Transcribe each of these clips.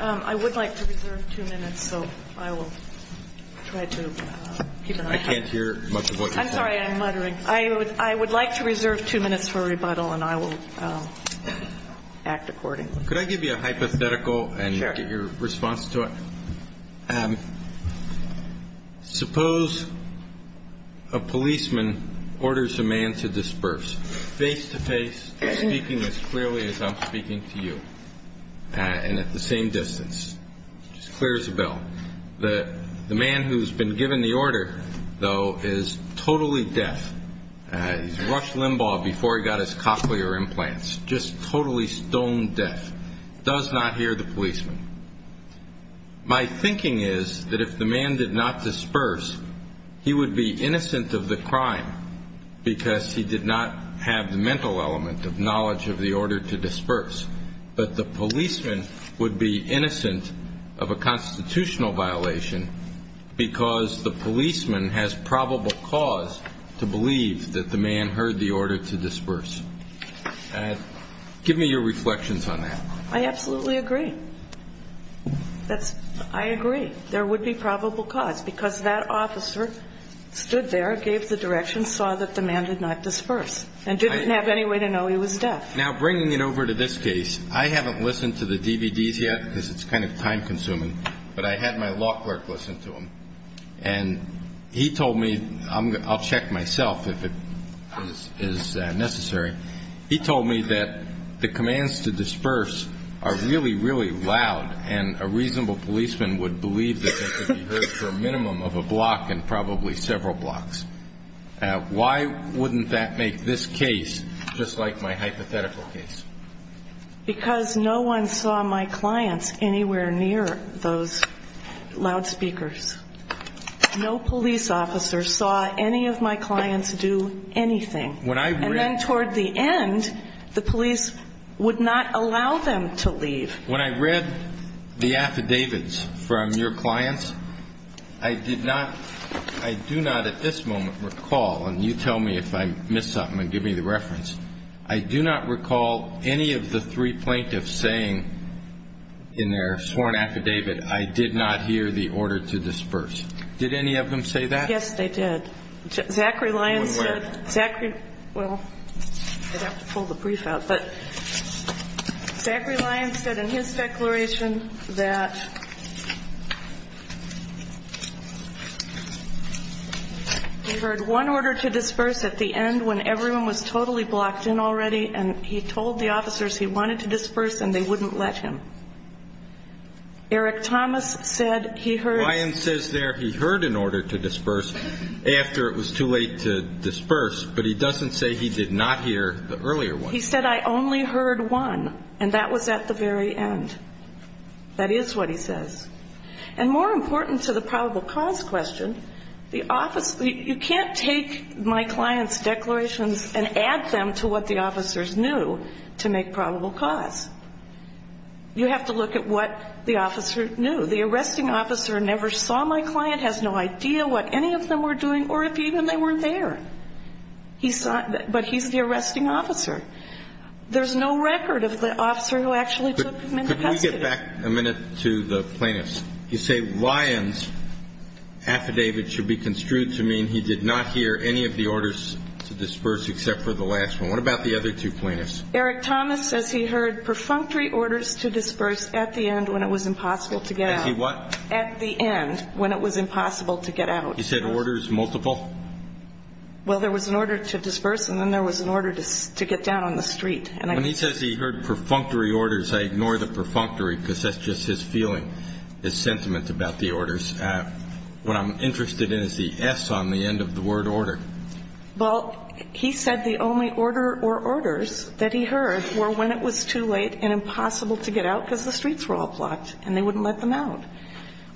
I would like to reserve two minutes for rebuttal and I will act accordingly. Could I give you a hypothetical and get your response to it? Suppose a policeman orders a man to disperse, face to face, speaking as clearly as I'm speaking to you, and at the same distance. He clears the bell. The man who has been given the order, though, is totally deaf. He's rushed Limbaugh before he got his cochlear implants. Just totally stone deaf. Does not hear the policeman. My thinking is that if the man did not disperse, he would be innocent of the crime because he did not have the mental element of knowledge of the order to disperse. But the policeman would be innocent of a constitutional violation because the policeman has probable cause to believe that the man heard the order to disperse. Give me your reflections on that. I absolutely agree. I agree. There would be probable cause because that officer stood there, gave the direction, saw that the man did not disperse, and didn't have any way to know he was deaf. Now, bringing it over to this case, I haven't listened to the DVDs yet because it's kind of time consuming, but I had my law clerk listen to them. And he told me, I'll check myself if it is necessary, he told me that the commands to disperse are really, really loud, and a reasonable policeman would believe that they could be heard for a minimum of a block and probably several blocks. Why wouldn't that make this case just like my hypothetical case? Because no one saw my clients anywhere near those loudspeakers. No police officer saw any of my clients do anything. And then toward the end, the police would not allow them to leave. When I read the affidavits from your clients, I did not, I do not at this moment recall, and you tell me if I miss something and give me the reference, I do not recall any of the three plaintiffs saying in their sworn affidavit, I did not hear the order to disperse. Did any of them say that? Yes, they did. Zachary Lyons said, Zachary, well, I'd have to pull the brief out. But Zachary Lyons said in his declaration that he heard one order to disperse at the end when everyone was totally blocked in already, and he told the officers he wanted to disperse and they wouldn't let him. Eric Thomas said he heard. Zachary Lyons says there he heard an order to disperse after it was too late to disperse, but he doesn't say he did not hear the earlier one. He said, I only heard one, and that was at the very end. That is what he says. And more important to the probable cause question, the office, you can't take my client's declarations and add them to what the officers knew to make probable cause. You have to look at what the officer knew. The arresting officer never saw my client, has no idea what any of them were doing or if even they were there. But he's the arresting officer. There's no record of the officer who actually took him into custody. Could we get back a minute to the plaintiffs? You say Lyons' affidavit should be construed to mean he did not hear any of the orders to disperse except for the last one. What about the other two plaintiffs? Eric Thomas says he heard perfunctory orders to disperse at the end when it was impossible to get out. At the what? At the end when it was impossible to get out. He said orders multiple? Well, there was an order to disperse and then there was an order to get down on the street. When he says he heard perfunctory orders, I ignore the perfunctory because that's just his feeling, his sentiment about the orders. What I'm interested in is the S on the end of the word order. Well, he said the only order or orders that he heard were when it was too late and impossible to get out because the streets were all blocked and they wouldn't let them out.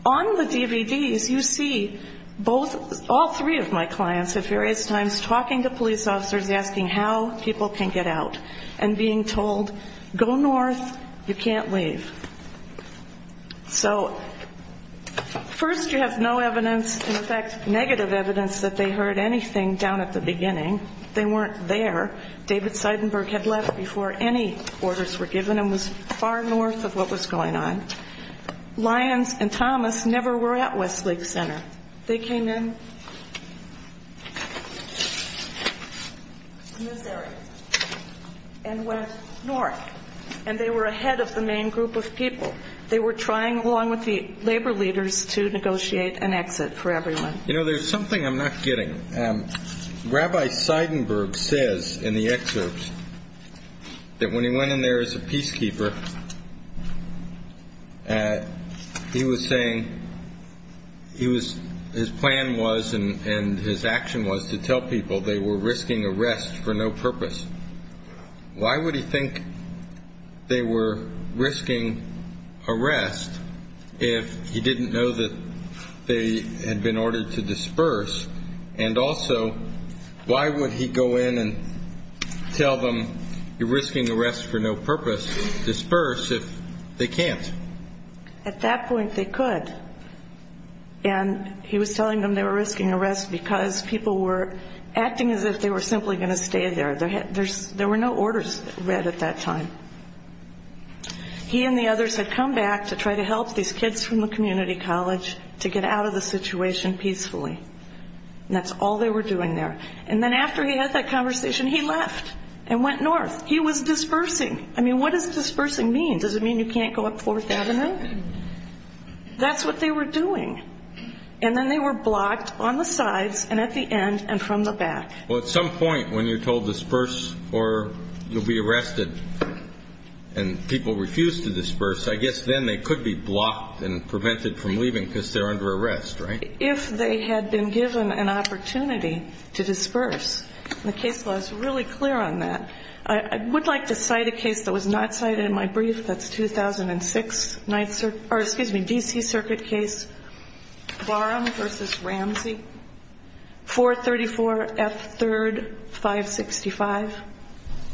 On the DVDs, you see all three of my clients at various times talking to police officers, asking how people can get out and being told, go north, you can't leave. So first you have no evidence, in fact, negative evidence that they heard anything down at the beginning. They weren't there. David Seidenberg had left before any orders were given and was far north of what was going on. Lyons and Thomas never were at Westlake Center. They came in in this area and went north. And they were ahead of the main group of people. They were trying, along with the labor leaders, to negotiate an exit for everyone. You know, there's something I'm not getting. Rabbi Seidenberg says in the excerpt that when he went in there as a peacekeeper, he was saying his plan was and his action was to tell people they were risking arrest for no purpose. Why would he think they were risking arrest if he didn't know that they had been ordered to disperse? And also, why would he go in and tell them you're risking arrest for no purpose, disperse, if they can't? At that point, they could. And he was telling them they were risking arrest because people were acting as if they were simply going to stay there. There were no orders read at that time. He and the others had come back to try to help these kids from the community college to get out of the situation peacefully. And that's all they were doing there. And then after he had that conversation, he left and went north. He was dispersing. I mean, what does dispersing mean? Does it mean you can't go up 4th Avenue? That's what they were doing. And then they were blocked on the sides and at the end and from the back. Well, at some point when you're told disperse or you'll be arrested and people refuse to disperse, I guess then they could be blocked and prevented from leaving because they're under arrest, right? If they had been given an opportunity to disperse, and the case law is really clear on that, I would like to cite a case that was not cited in my brief. That's 2006, 9th Circuit, or excuse me, D.C. Circuit case Barham v. Ramsey, 434 F. 3rd, 565,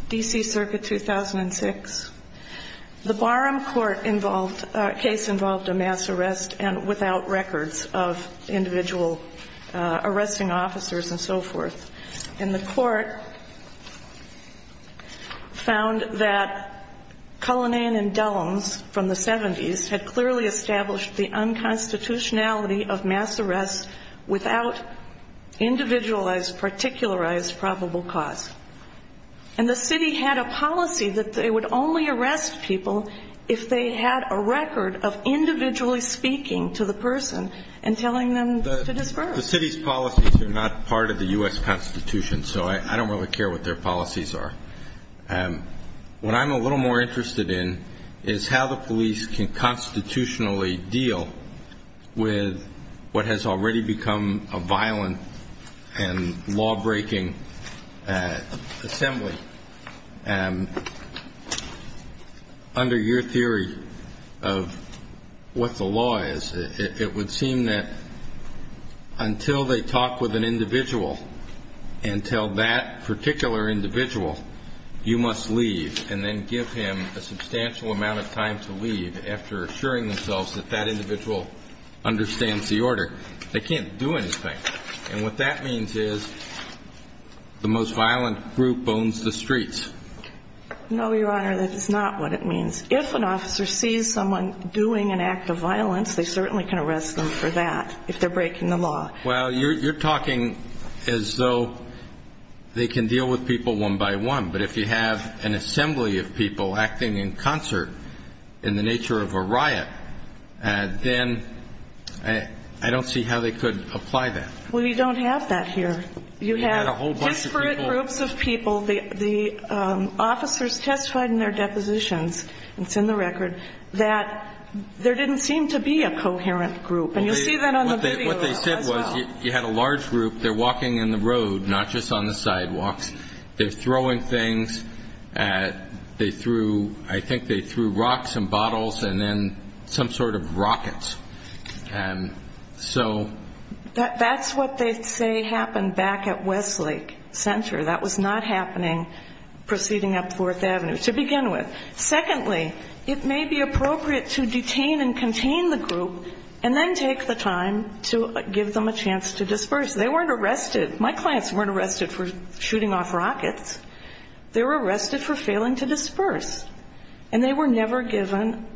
D.C. Circuit, 2006. The Barham court case involved a mass arrest and without records of individual arresting officers and so forth. And the court found that Cullinan and Dellums from the 70s had clearly established the unconstitutionality of mass arrest without individualized, particularized probable cause. And the city had a policy that they would only arrest people if they had a record of individually speaking to the person and telling them to disperse. The city's policies are not part of the U.S. Constitution, so I don't really care what their policies are. What I'm a little more interested in is how the police can constitutionally deal with what has already become a violent and law-breaking assembly. Under your theory of what the law is, it would seem that until they talk with an individual and tell that particular individual you must leave and then give him a substantial amount of time to leave after assuring themselves that that individual understands the order, they can't do anything. And what that means is the most violent group owns the streets. No, Your Honor, that is not what it means. If an officer sees someone doing an act of violence, they certainly can arrest them for that if they're breaking the law. Well, you're talking as though they can deal with people one by one. But if you have an assembly of people acting in concert in the nature of a riot, then I don't see how they could apply that. Well, you don't have that here. You have disparate groups of people. The officers testified in their depositions, and it's in the record, that there didn't seem to be a coherent group. And you'll see that on the video as well. What they said was you had a large group. They're walking in the road, not just on the sidewalks. They're throwing things. They threw, I think they threw rocks and bottles and then some sort of rockets. And so... That's what they say happened back at Westlake Center. That was not happening proceeding up Fourth Avenue to begin with. Secondly, it may be appropriate to detain and contain the group and then take the time to give them a chance to disperse. They weren't arrested. My clients weren't arrested for shooting off rockets. They were arrested for failing to disperse. And they were never given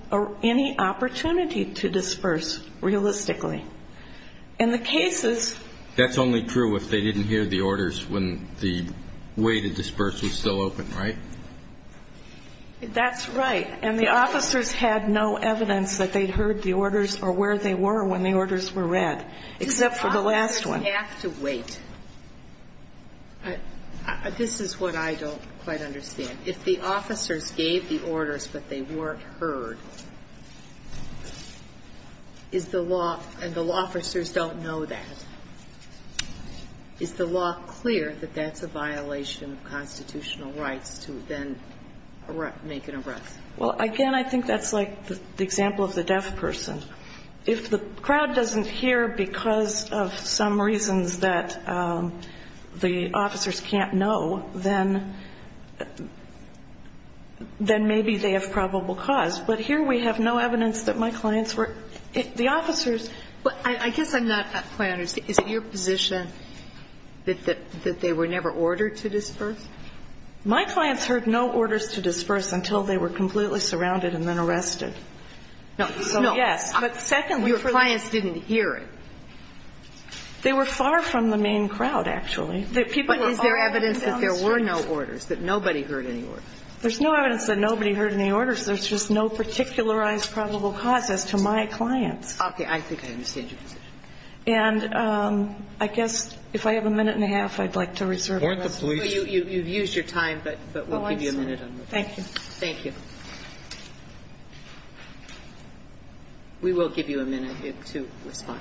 any opportunity to disperse realistically. And the cases... That's only true if they didn't hear the orders when the way to disperse was still open, right? That's right. And the officers had no evidence that they'd heard the orders or where they were when the orders were read, except for the last one. They have to wait. This is what I don't quite understand. If the officers gave the orders but they weren't heard, is the law, and the law officers don't know that, is the law clear that that's a violation of constitutional rights to then make an arrest? Well, again, I think that's like the example of the deaf person. If the crowd doesn't hear because of some reasons that the officers can't know, then maybe they have probable cause. But here we have no evidence that my clients were the officers. I guess I'm not quite understanding. Is it your position that they were never ordered to disperse? My clients heard no orders to disperse until they were completely surrounded and then arrested. No. No. So, yes. But secondly for the... Your clients didn't hear it. They were far from the main crowd, actually. But is there evidence that there were no orders, that nobody heard any orders? There's no evidence that nobody heard any orders. There's just no particularized probable cause as to my clients. Okay. I think I understand your position. And I guess if I have a minute and a half, I'd like to reserve it. You've used your time, but we'll give you a minute. Thank you. Thank you. We will give you a minute to respond.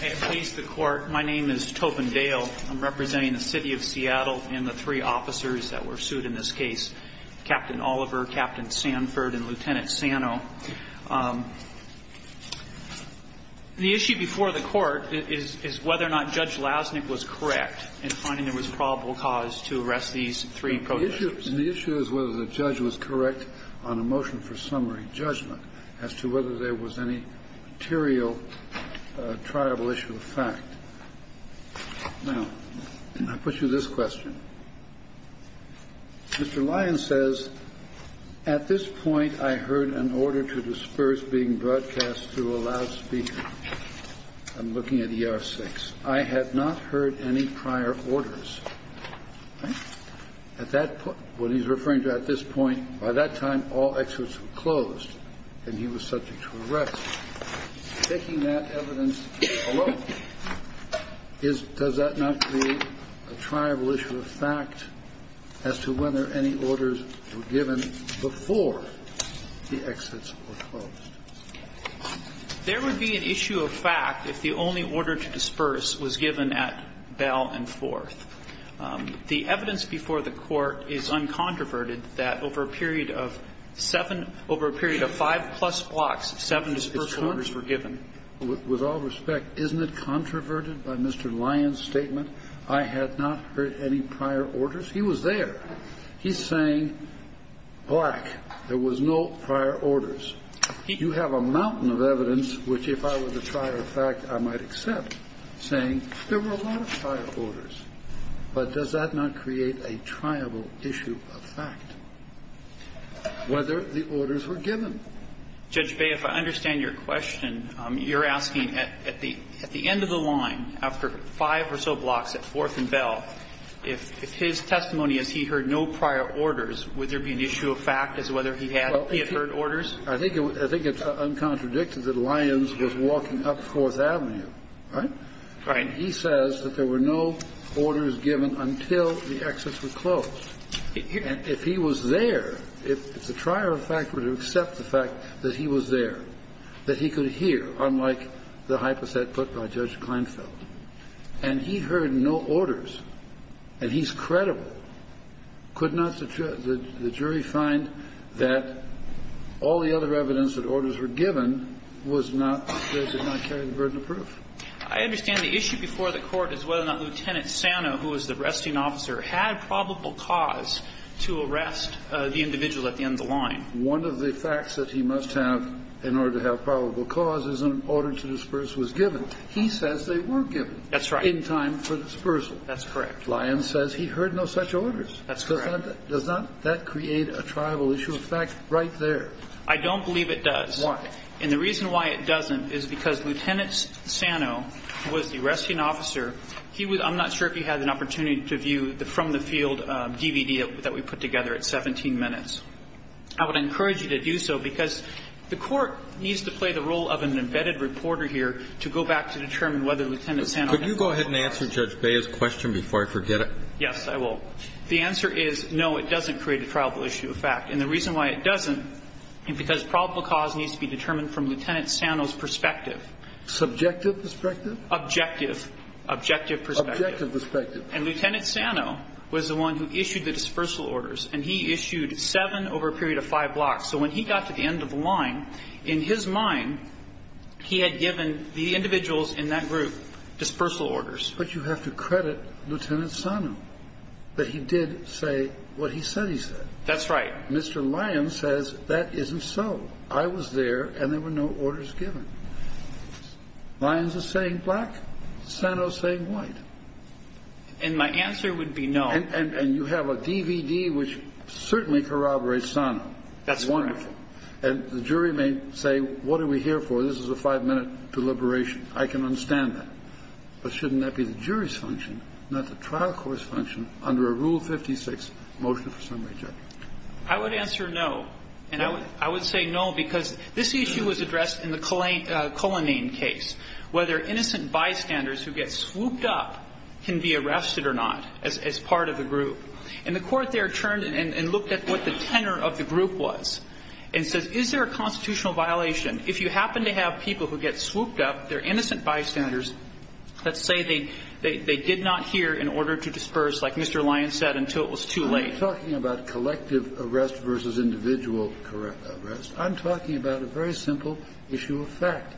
May it please the Court, my name is Tobin Dale. I'm representing the City of Seattle and the three officers that were sued in this case. Captain Oliver, Captain Sanford, and Lieutenant Sano. The issue before the Court is whether or not Judge Lasnik was correct in finding there was probable cause to arrest these three protesters. The issue is whether the judge was correct on a motion for summary judgment as to whether Now, I put you this question. Mr. Lyons says, at this point, I heard an order to disperse being broadcast through a loudspeaker. I'm looking at ER-6. I have not heard any prior orders. At that point, what he's referring to at this point, by that time, all exits were closed and he was subject to arrest. Taking that evidence alone, does that not create a triable issue of fact as to whether any orders were given before the exits were closed? There would be an issue of fact if the only order to disperse was given at bell and forth. The evidence before the Court is uncontroverted that over a period of seven, over a period of five plus blocks, seven disperse orders were given. With all respect, isn't it controverted by Mr. Lyons' statement? I had not heard any prior orders. He was there. He's saying, black, there was no prior orders. You have a mountain of evidence which, if I were to try a fact, I might accept, saying there were a lot of prior orders. But does that not create a triable issue of fact, whether the orders were given? Judge Bay, if I understand your question, you're asking at the end of the line, after five or so blocks at forth and bell, if his testimony is he heard no prior orders, would there be an issue of fact as to whether he had heard orders? I think it's uncontradicted that Lyons was walking up Fourth Avenue, right? Right. He says that there were no orders given until the exits were closed. And if he was there, if the trier of fact were to accept the fact that he was there, that he could hear, unlike the hypothet put by Judge Kleinfeld, and he heard no orders and he's credible, could not the jury find that all the other evidence that orders were given was not, does it not carry the burden of proof? I understand the issue before the Court is whether or not Lieutenant Sano, who is the arresting officer, had probable cause to arrest the individual at the end of the line. One of the facts that he must have in order to have probable cause is an order to disperse was given. He says they were given. That's right. In time for dispersal. That's correct. Lyons says he heard no such orders. That's correct. Does that create a tribal issue? In fact, right there. I don't believe it does. Why? And the reason why it doesn't is because Lieutenant Sano was the arresting officer. I'm not sure if he had an opportunity to view the from the field DVD that we put together at 17 minutes. I would encourage you to do so because the Court needs to play the role of an embedded reporter here to go back to determine whether Lieutenant Sano had probable cause. Could you go ahead and answer Judge Bea's question before I forget it? Yes, I will. The answer is no, it doesn't create a tribal issue. In fact, and the reason why it doesn't is because probable cause needs to be determined from Lieutenant Sano's perspective. Subjective perspective? Objective. Objective perspective. Objective perspective. And Lieutenant Sano was the one who issued the dispersal orders, and he issued seven over a period of five blocks. So when he got to the end of the line, in his mind, he had given the individuals in that group dispersal orders. But you have to credit Lieutenant Sano that he did say what he said he said. That's right. Mr. Lyons says that isn't so. I was there, and there were no orders given. Lyons is saying black. Sano is saying white. And my answer would be no. And you have a DVD which certainly corroborates Sano. That's wonderful. And the jury may say, what are we here for? This is a five-minute deliberation. I can understand that. But shouldn't that be the jury's function, not the trial court's function under a Rule 56 motion for summary judgment? I would answer no. And I would say no, because this issue was addressed in the Cullinane case, whether innocent bystanders who get swooped up can be arrested or not as part of the group. And the Court there turned and looked at what the tenor of the group was and said, is there a constitutional violation? If you happen to have people who get swooped up, they're innocent bystanders, let's say they did not hear an order to disperse, like Mr. Lyons said, until it was too late. I'm not talking about collective arrest versus individual arrest. I'm talking about a very simple issue of fact.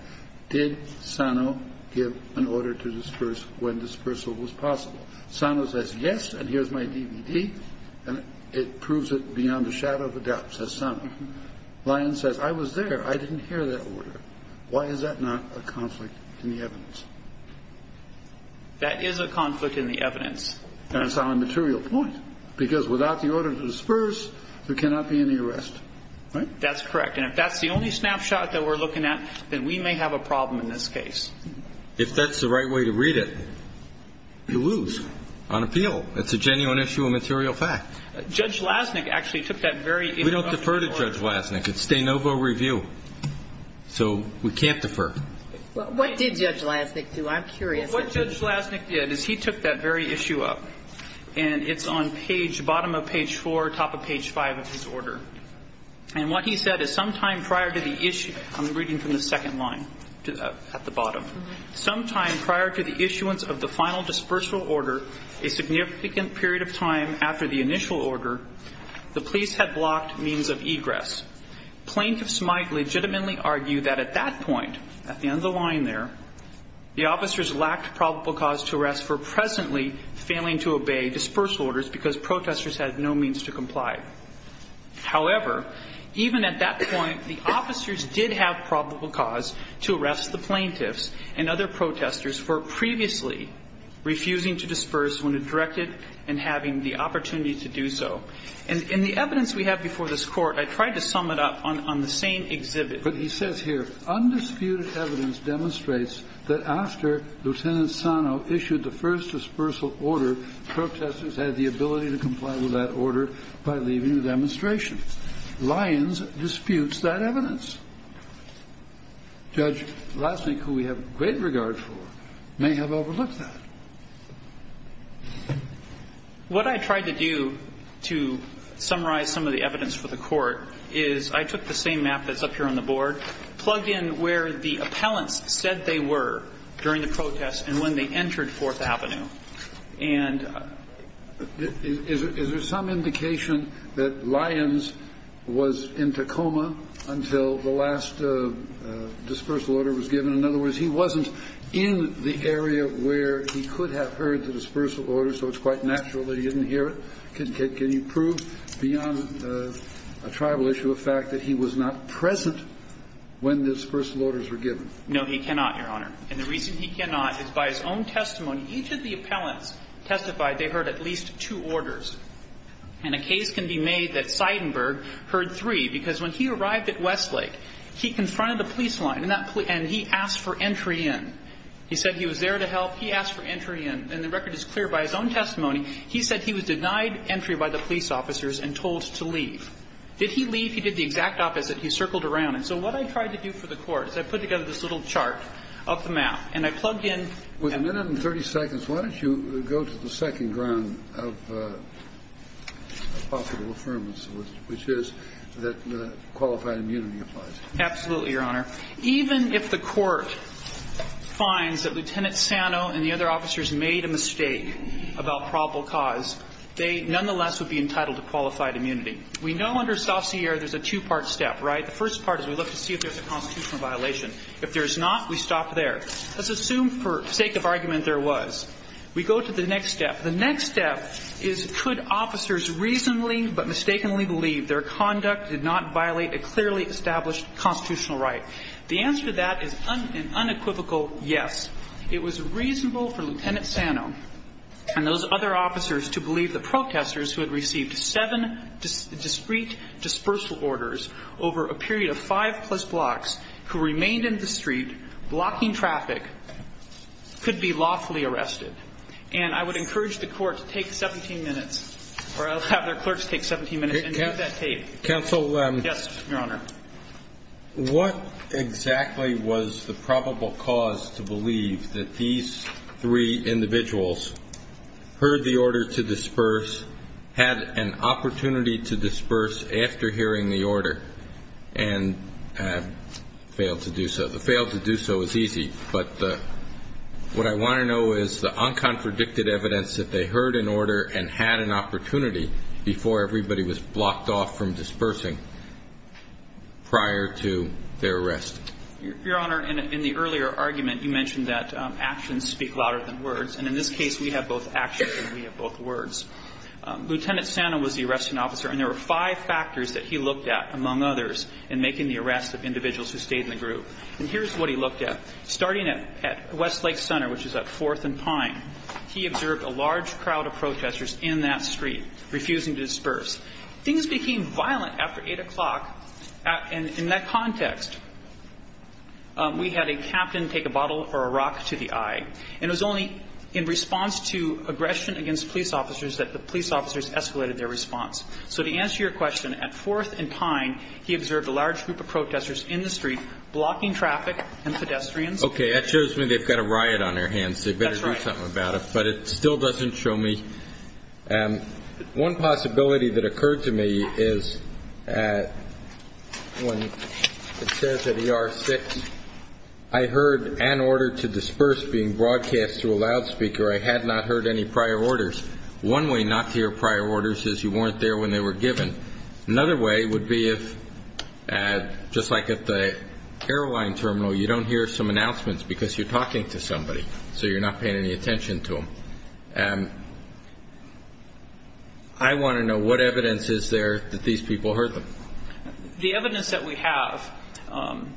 Did Sano give an order to disperse when dispersal was possible? Sano says yes, and here's my DVD, and it proves it beyond a shadow of a doubt, says Sano. Lyons says I was there. I didn't hear that order. Why is that not a conflict in the evidence? That is a conflict in the evidence. And it's on a material point, because without the order to disperse, there cannot be any arrest. Right? That's correct. And if that's the only snapshot that we're looking at, then we may have a problem in this case. If that's the right way to read it, you lose on appeal. It's a genuine issue of material fact. Judge Lasnik actually took that very interrupting order. We don't defer to Judge Lasnik. It's de novo review. So we can't defer. What did Judge Lasnik do? I'm curious. What Judge Lasnik did is he took that very issue up, and it's on bottom of page four, top of page five of his order. And what he said is sometime prior to the issue, I'm reading from the second line at the bottom. Sometime prior to the issuance of the final dispersal order, a significant period of time after the initial order, the police had blocked means of egress. Plaintiffs might legitimately argue that at that point, at the end of the line there, the officers lacked probable cause to arrest for presently failing to obey dispersal orders because protesters had no means to comply. However, even at that point, the officers did have probable cause to arrest the plaintiffs and other protesters for previously refusing to disperse when directed and having the opportunity to do so. In the evidence we have before this Court, I tried to sum it up on the same exhibit. But he says here, Undisputed evidence demonstrates that after Lieutenant Sano issued the first dispersal order, protesters had the ability to comply with that order by leaving the demonstration. Lyons disputes that evidence. Judge Lasnik, who we have great regard for, may have overlooked that. What I tried to do to summarize some of the evidence for the Court is I took the same map that's up here on the board, plugged in where the appellants said they were during the protest and when they entered Fourth Avenue. And is there some indication that Lyons was in Tacoma until the last dispersal order was given? In other words, he wasn't in the area where he could have heard the dispersal order, so it's quite natural that he didn't hear it? Can you prove beyond a tribal issue of fact that he was not present when the dispersal orders were given? No, he cannot, Your Honor. And the reason he cannot is by his own testimony, each of the appellants testified they heard at least two orders. And a case can be made that Seidenberg heard three, because when he arrived at West Street, he asked for entry in. He said he was there to help. He asked for entry in. And the record is clear. By his own testimony, he said he was denied entry by the police officers and told to leave. Did he leave? He did the exact opposite. He circled around. And so what I tried to do for the Court is I put together this little chart of the map, and I plugged in. Kennedy. With a minute and 30 seconds, why don't you go to the second ground of possible affirmance, which is that qualified immunity applies? Absolutely, Your Honor. Even if the Court finds that Lieutenant Sano and the other officers made a mistake about probable cause, they nonetheless would be entitled to qualified immunity. We know under Saussure there's a two-part step, right? The first part is we look to see if there's a constitutional violation. If there's not, we stop there. Let's assume for sake of argument there was. We go to the next step. The next step is could officers reasonably but mistakenly believe their conduct did not violate a clearly established constitutional right? The answer to that is an unequivocal yes. It was reasonable for Lieutenant Sano and those other officers to believe the protesters who had received seven discreet dispersal orders over a period of five plus blocks who remained in the street blocking traffic could be lawfully arrested. And I would encourage the Court to take 17 minutes, or I'll have their clerks take 17 minutes and do that tape. Counsel. Yes, Your Honor. What exactly was the probable cause to believe that these three individuals heard the order to disperse, had an opportunity to disperse after hearing the order and failed to do so? To fail to do so is easy, but what I want to know is the uncontradicted evidence that they heard an order and had an opportunity before everybody was there prior to their arrest. Your Honor, in the earlier argument, you mentioned that actions speak louder than words. And in this case, we have both actions and we have both words. Lieutenant Sano was the arresting officer, and there were five factors that he looked at, among others, in making the arrest of individuals who stayed in the group. And here's what he looked at. Starting at Westlake Center, which is at 4th and Pine, he observed a large crowd of protesters in that street refusing to disperse. Things became violent after 8 o'clock. And in that context, we had a captain take a bottle or a rock to the eye. And it was only in response to aggression against police officers that the police officers escalated their response. So to answer your question, at 4th and Pine, he observed a large group of protesters in the street blocking traffic and pedestrians. Okay. That shows me they've got a riot on their hands. That's right. They better do something about it. But it still doesn't show me. One possibility that occurred to me is when it says at ER 6, I heard an order to disperse being broadcast through a loudspeaker. I had not heard any prior orders. One way not to hear prior orders is you weren't there when they were given. Another way would be if, just like at the airline terminal, you don't hear some announcements because you're talking to somebody, so you're not paying any attention to them. I want to know what evidence is there that these people heard them. The evidence that we have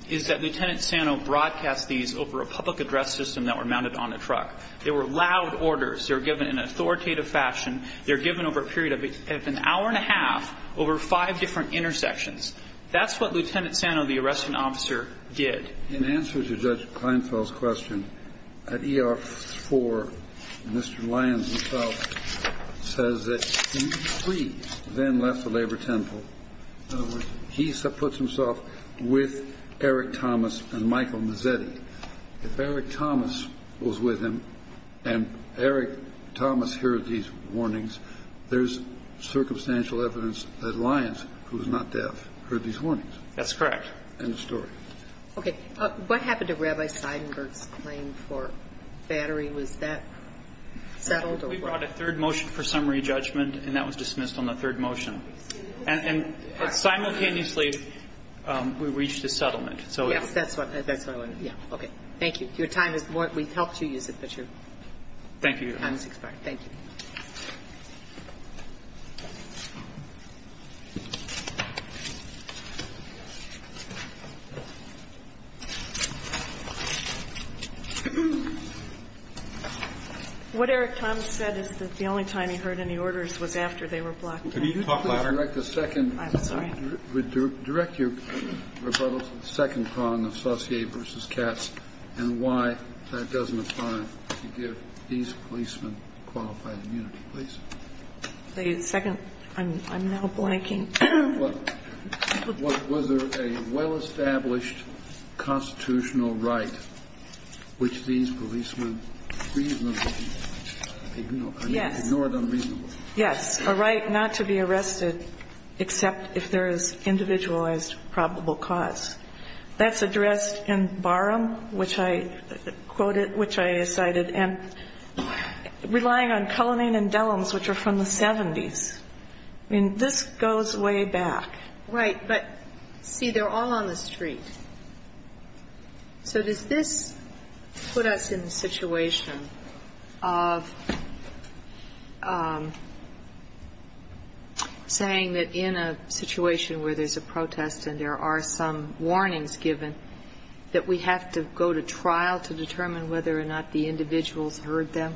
is that Lieutenant Sano broadcast these over a public address system that were mounted on a truck. They were loud orders. They were given in an authoritative fashion. They were given over a period of an hour and a half over five different intersections. That's what Lieutenant Sano, the arresting officer, did. In answer to Judge Kleinfeld's question, at ER 4, Mr. Lyons himself says that he, please, then left the labor temple. In other words, he puts himself with Eric Thomas and Michael Mazzetti. If Eric Thomas was with him and Eric Thomas heard these warnings, there's circumstantial evidence that Lyons, who is not deaf, heard these warnings. That's correct. End of story. Okay. What happened to Rabbi Seidenberg's claim for battery? Was that settled? We brought a third motion for summary judgment, and that was dismissed on the third motion. And simultaneously, we reached a settlement. Yes, that's what I wanted. Okay. Thank you. We've helped you use it, but your time has expired. Thank you. What Eric Thomas said is that the only time he heard any orders was after they were blocked. Could you talk louder? I'm sorry. Direct your rebuttals to the second column, associate versus cats, and why that doesn't apply. Could you give these policemen qualified immunity, please? The second? I'm now blanking. Was there a well-established constitutional right which these policemen reasonably ignore? Yes. Ignore it unreasonably. Yes. A right not to be arrested except if there is individualized probable cause. That's addressed in Barham, which I quoted, which I cited, and relying on Cullinane and Dellums, which are from the 70s. I mean, this goes way back. Right. But, see, they're all on the street. So does this put us in the situation of saying that in a situation where there's a protest and there are some warnings given that we have to go to trial to determine whether or not the individuals heard them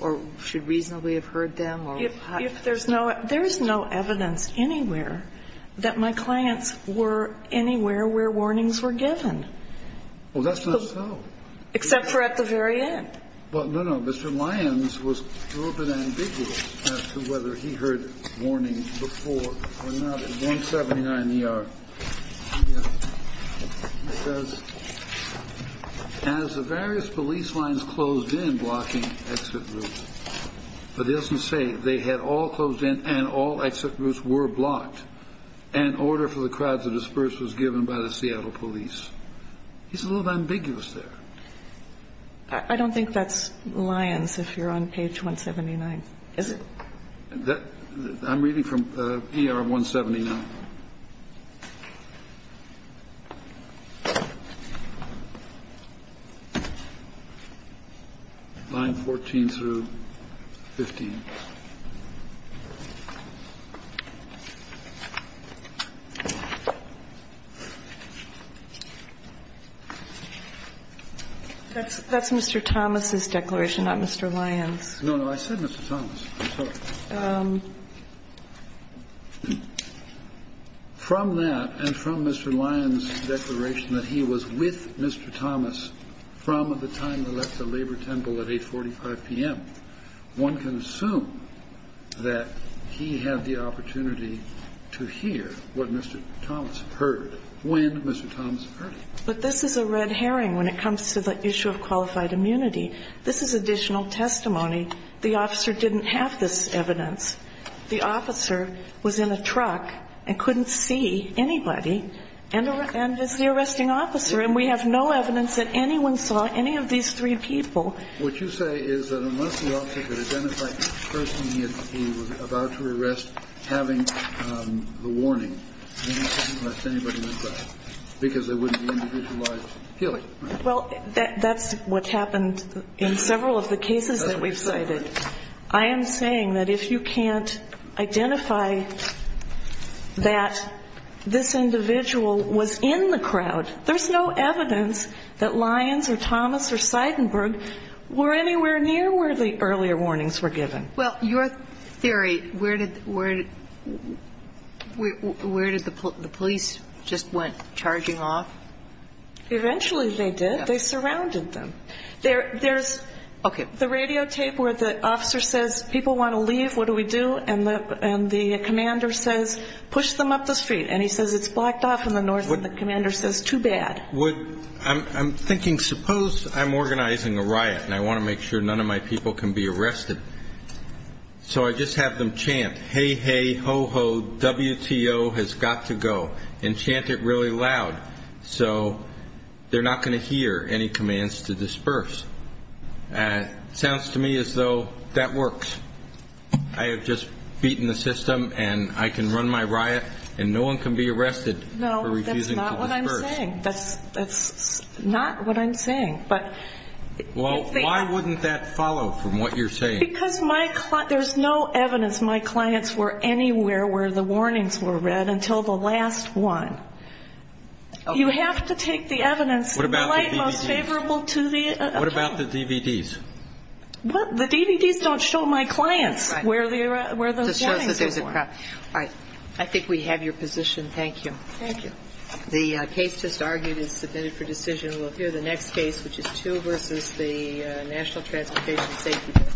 or should reasonably have heard them? If there's no evidence anywhere that my clients were anywhere where warnings were given. Well, that's not so. Except for at the very end. Well, no, no. Mr. Lyons was a little bit ambiguous as to whether he heard warnings before or not. In 179ER, it says, As the various police lines closed in blocking exit routes. But it doesn't say they had all closed in and all exit routes were blocked and order for the crowds to disperse was given by the Seattle police. He's a little ambiguous there. I don't think that's Lyons if you're on page 179. Is it? I'm reading from ER 179. Line 14 through 15. That's Mr. Thomas's declaration, not Mr. Lyons. No, no. I said Mr. Thomas. From that and from Mr. Lyons' declaration that he was with Mr. Thomas from the time they left the labor temple at 845 p.m., one can assume that he had the opportunity to hear what Mr. Thomas heard when Mr. Thomas heard him. But this is a red herring when it comes to the issue of qualified immunity. This is additional testimony. The officer didn't have this evidence. The officer was in a truck and couldn't see anybody. And it's the arresting officer. And we have no evidence that anyone saw any of these three people. What you say is that unless the officer could identify the person he was about to arrest having the warning, he couldn't arrest anybody like that because there wouldn't be individualized killing, right? Well, that's what happened in several of the cases that we've cited. I am saying that if you can't identify that this individual was in the crowd, there's no evidence that Lyons or Thomas or Seidenberg were anywhere near where the earlier warnings were given. Well, your theory, where did the police just went charging off? Eventually they did. They surrounded them. There's the radio tape where the officer says, people want to leave, what do we do? And the commander says, push them up the street. And he says, it's blocked off in the north. And the commander says, too bad. I'm thinking, suppose I'm organizing a riot and I want to make sure none of my people can be arrested. So I just have them chant, hey, hey, ho, ho, WTO has got to go, and chant it really loud so they're not going to hear any commands to disperse. Sounds to me as though that works. I have just beaten the system and I can run my riot and no one can be arrested for refusing to disperse. No, that's not what I'm saying. That's not what I'm saying. Well, why wouldn't that follow from what you're saying? Because there's no evidence my clients were anywhere where the warnings were read until the last one. You have to take the evidence in the light most favorable to the account. What about the DVDs? The DVDs don't show my clients where those warnings were. All right. I think we have your position. Thank you. Thank you. The case just argued is submitted for decision. We'll hear the next case, which is two versus the National Transportation Safety Board.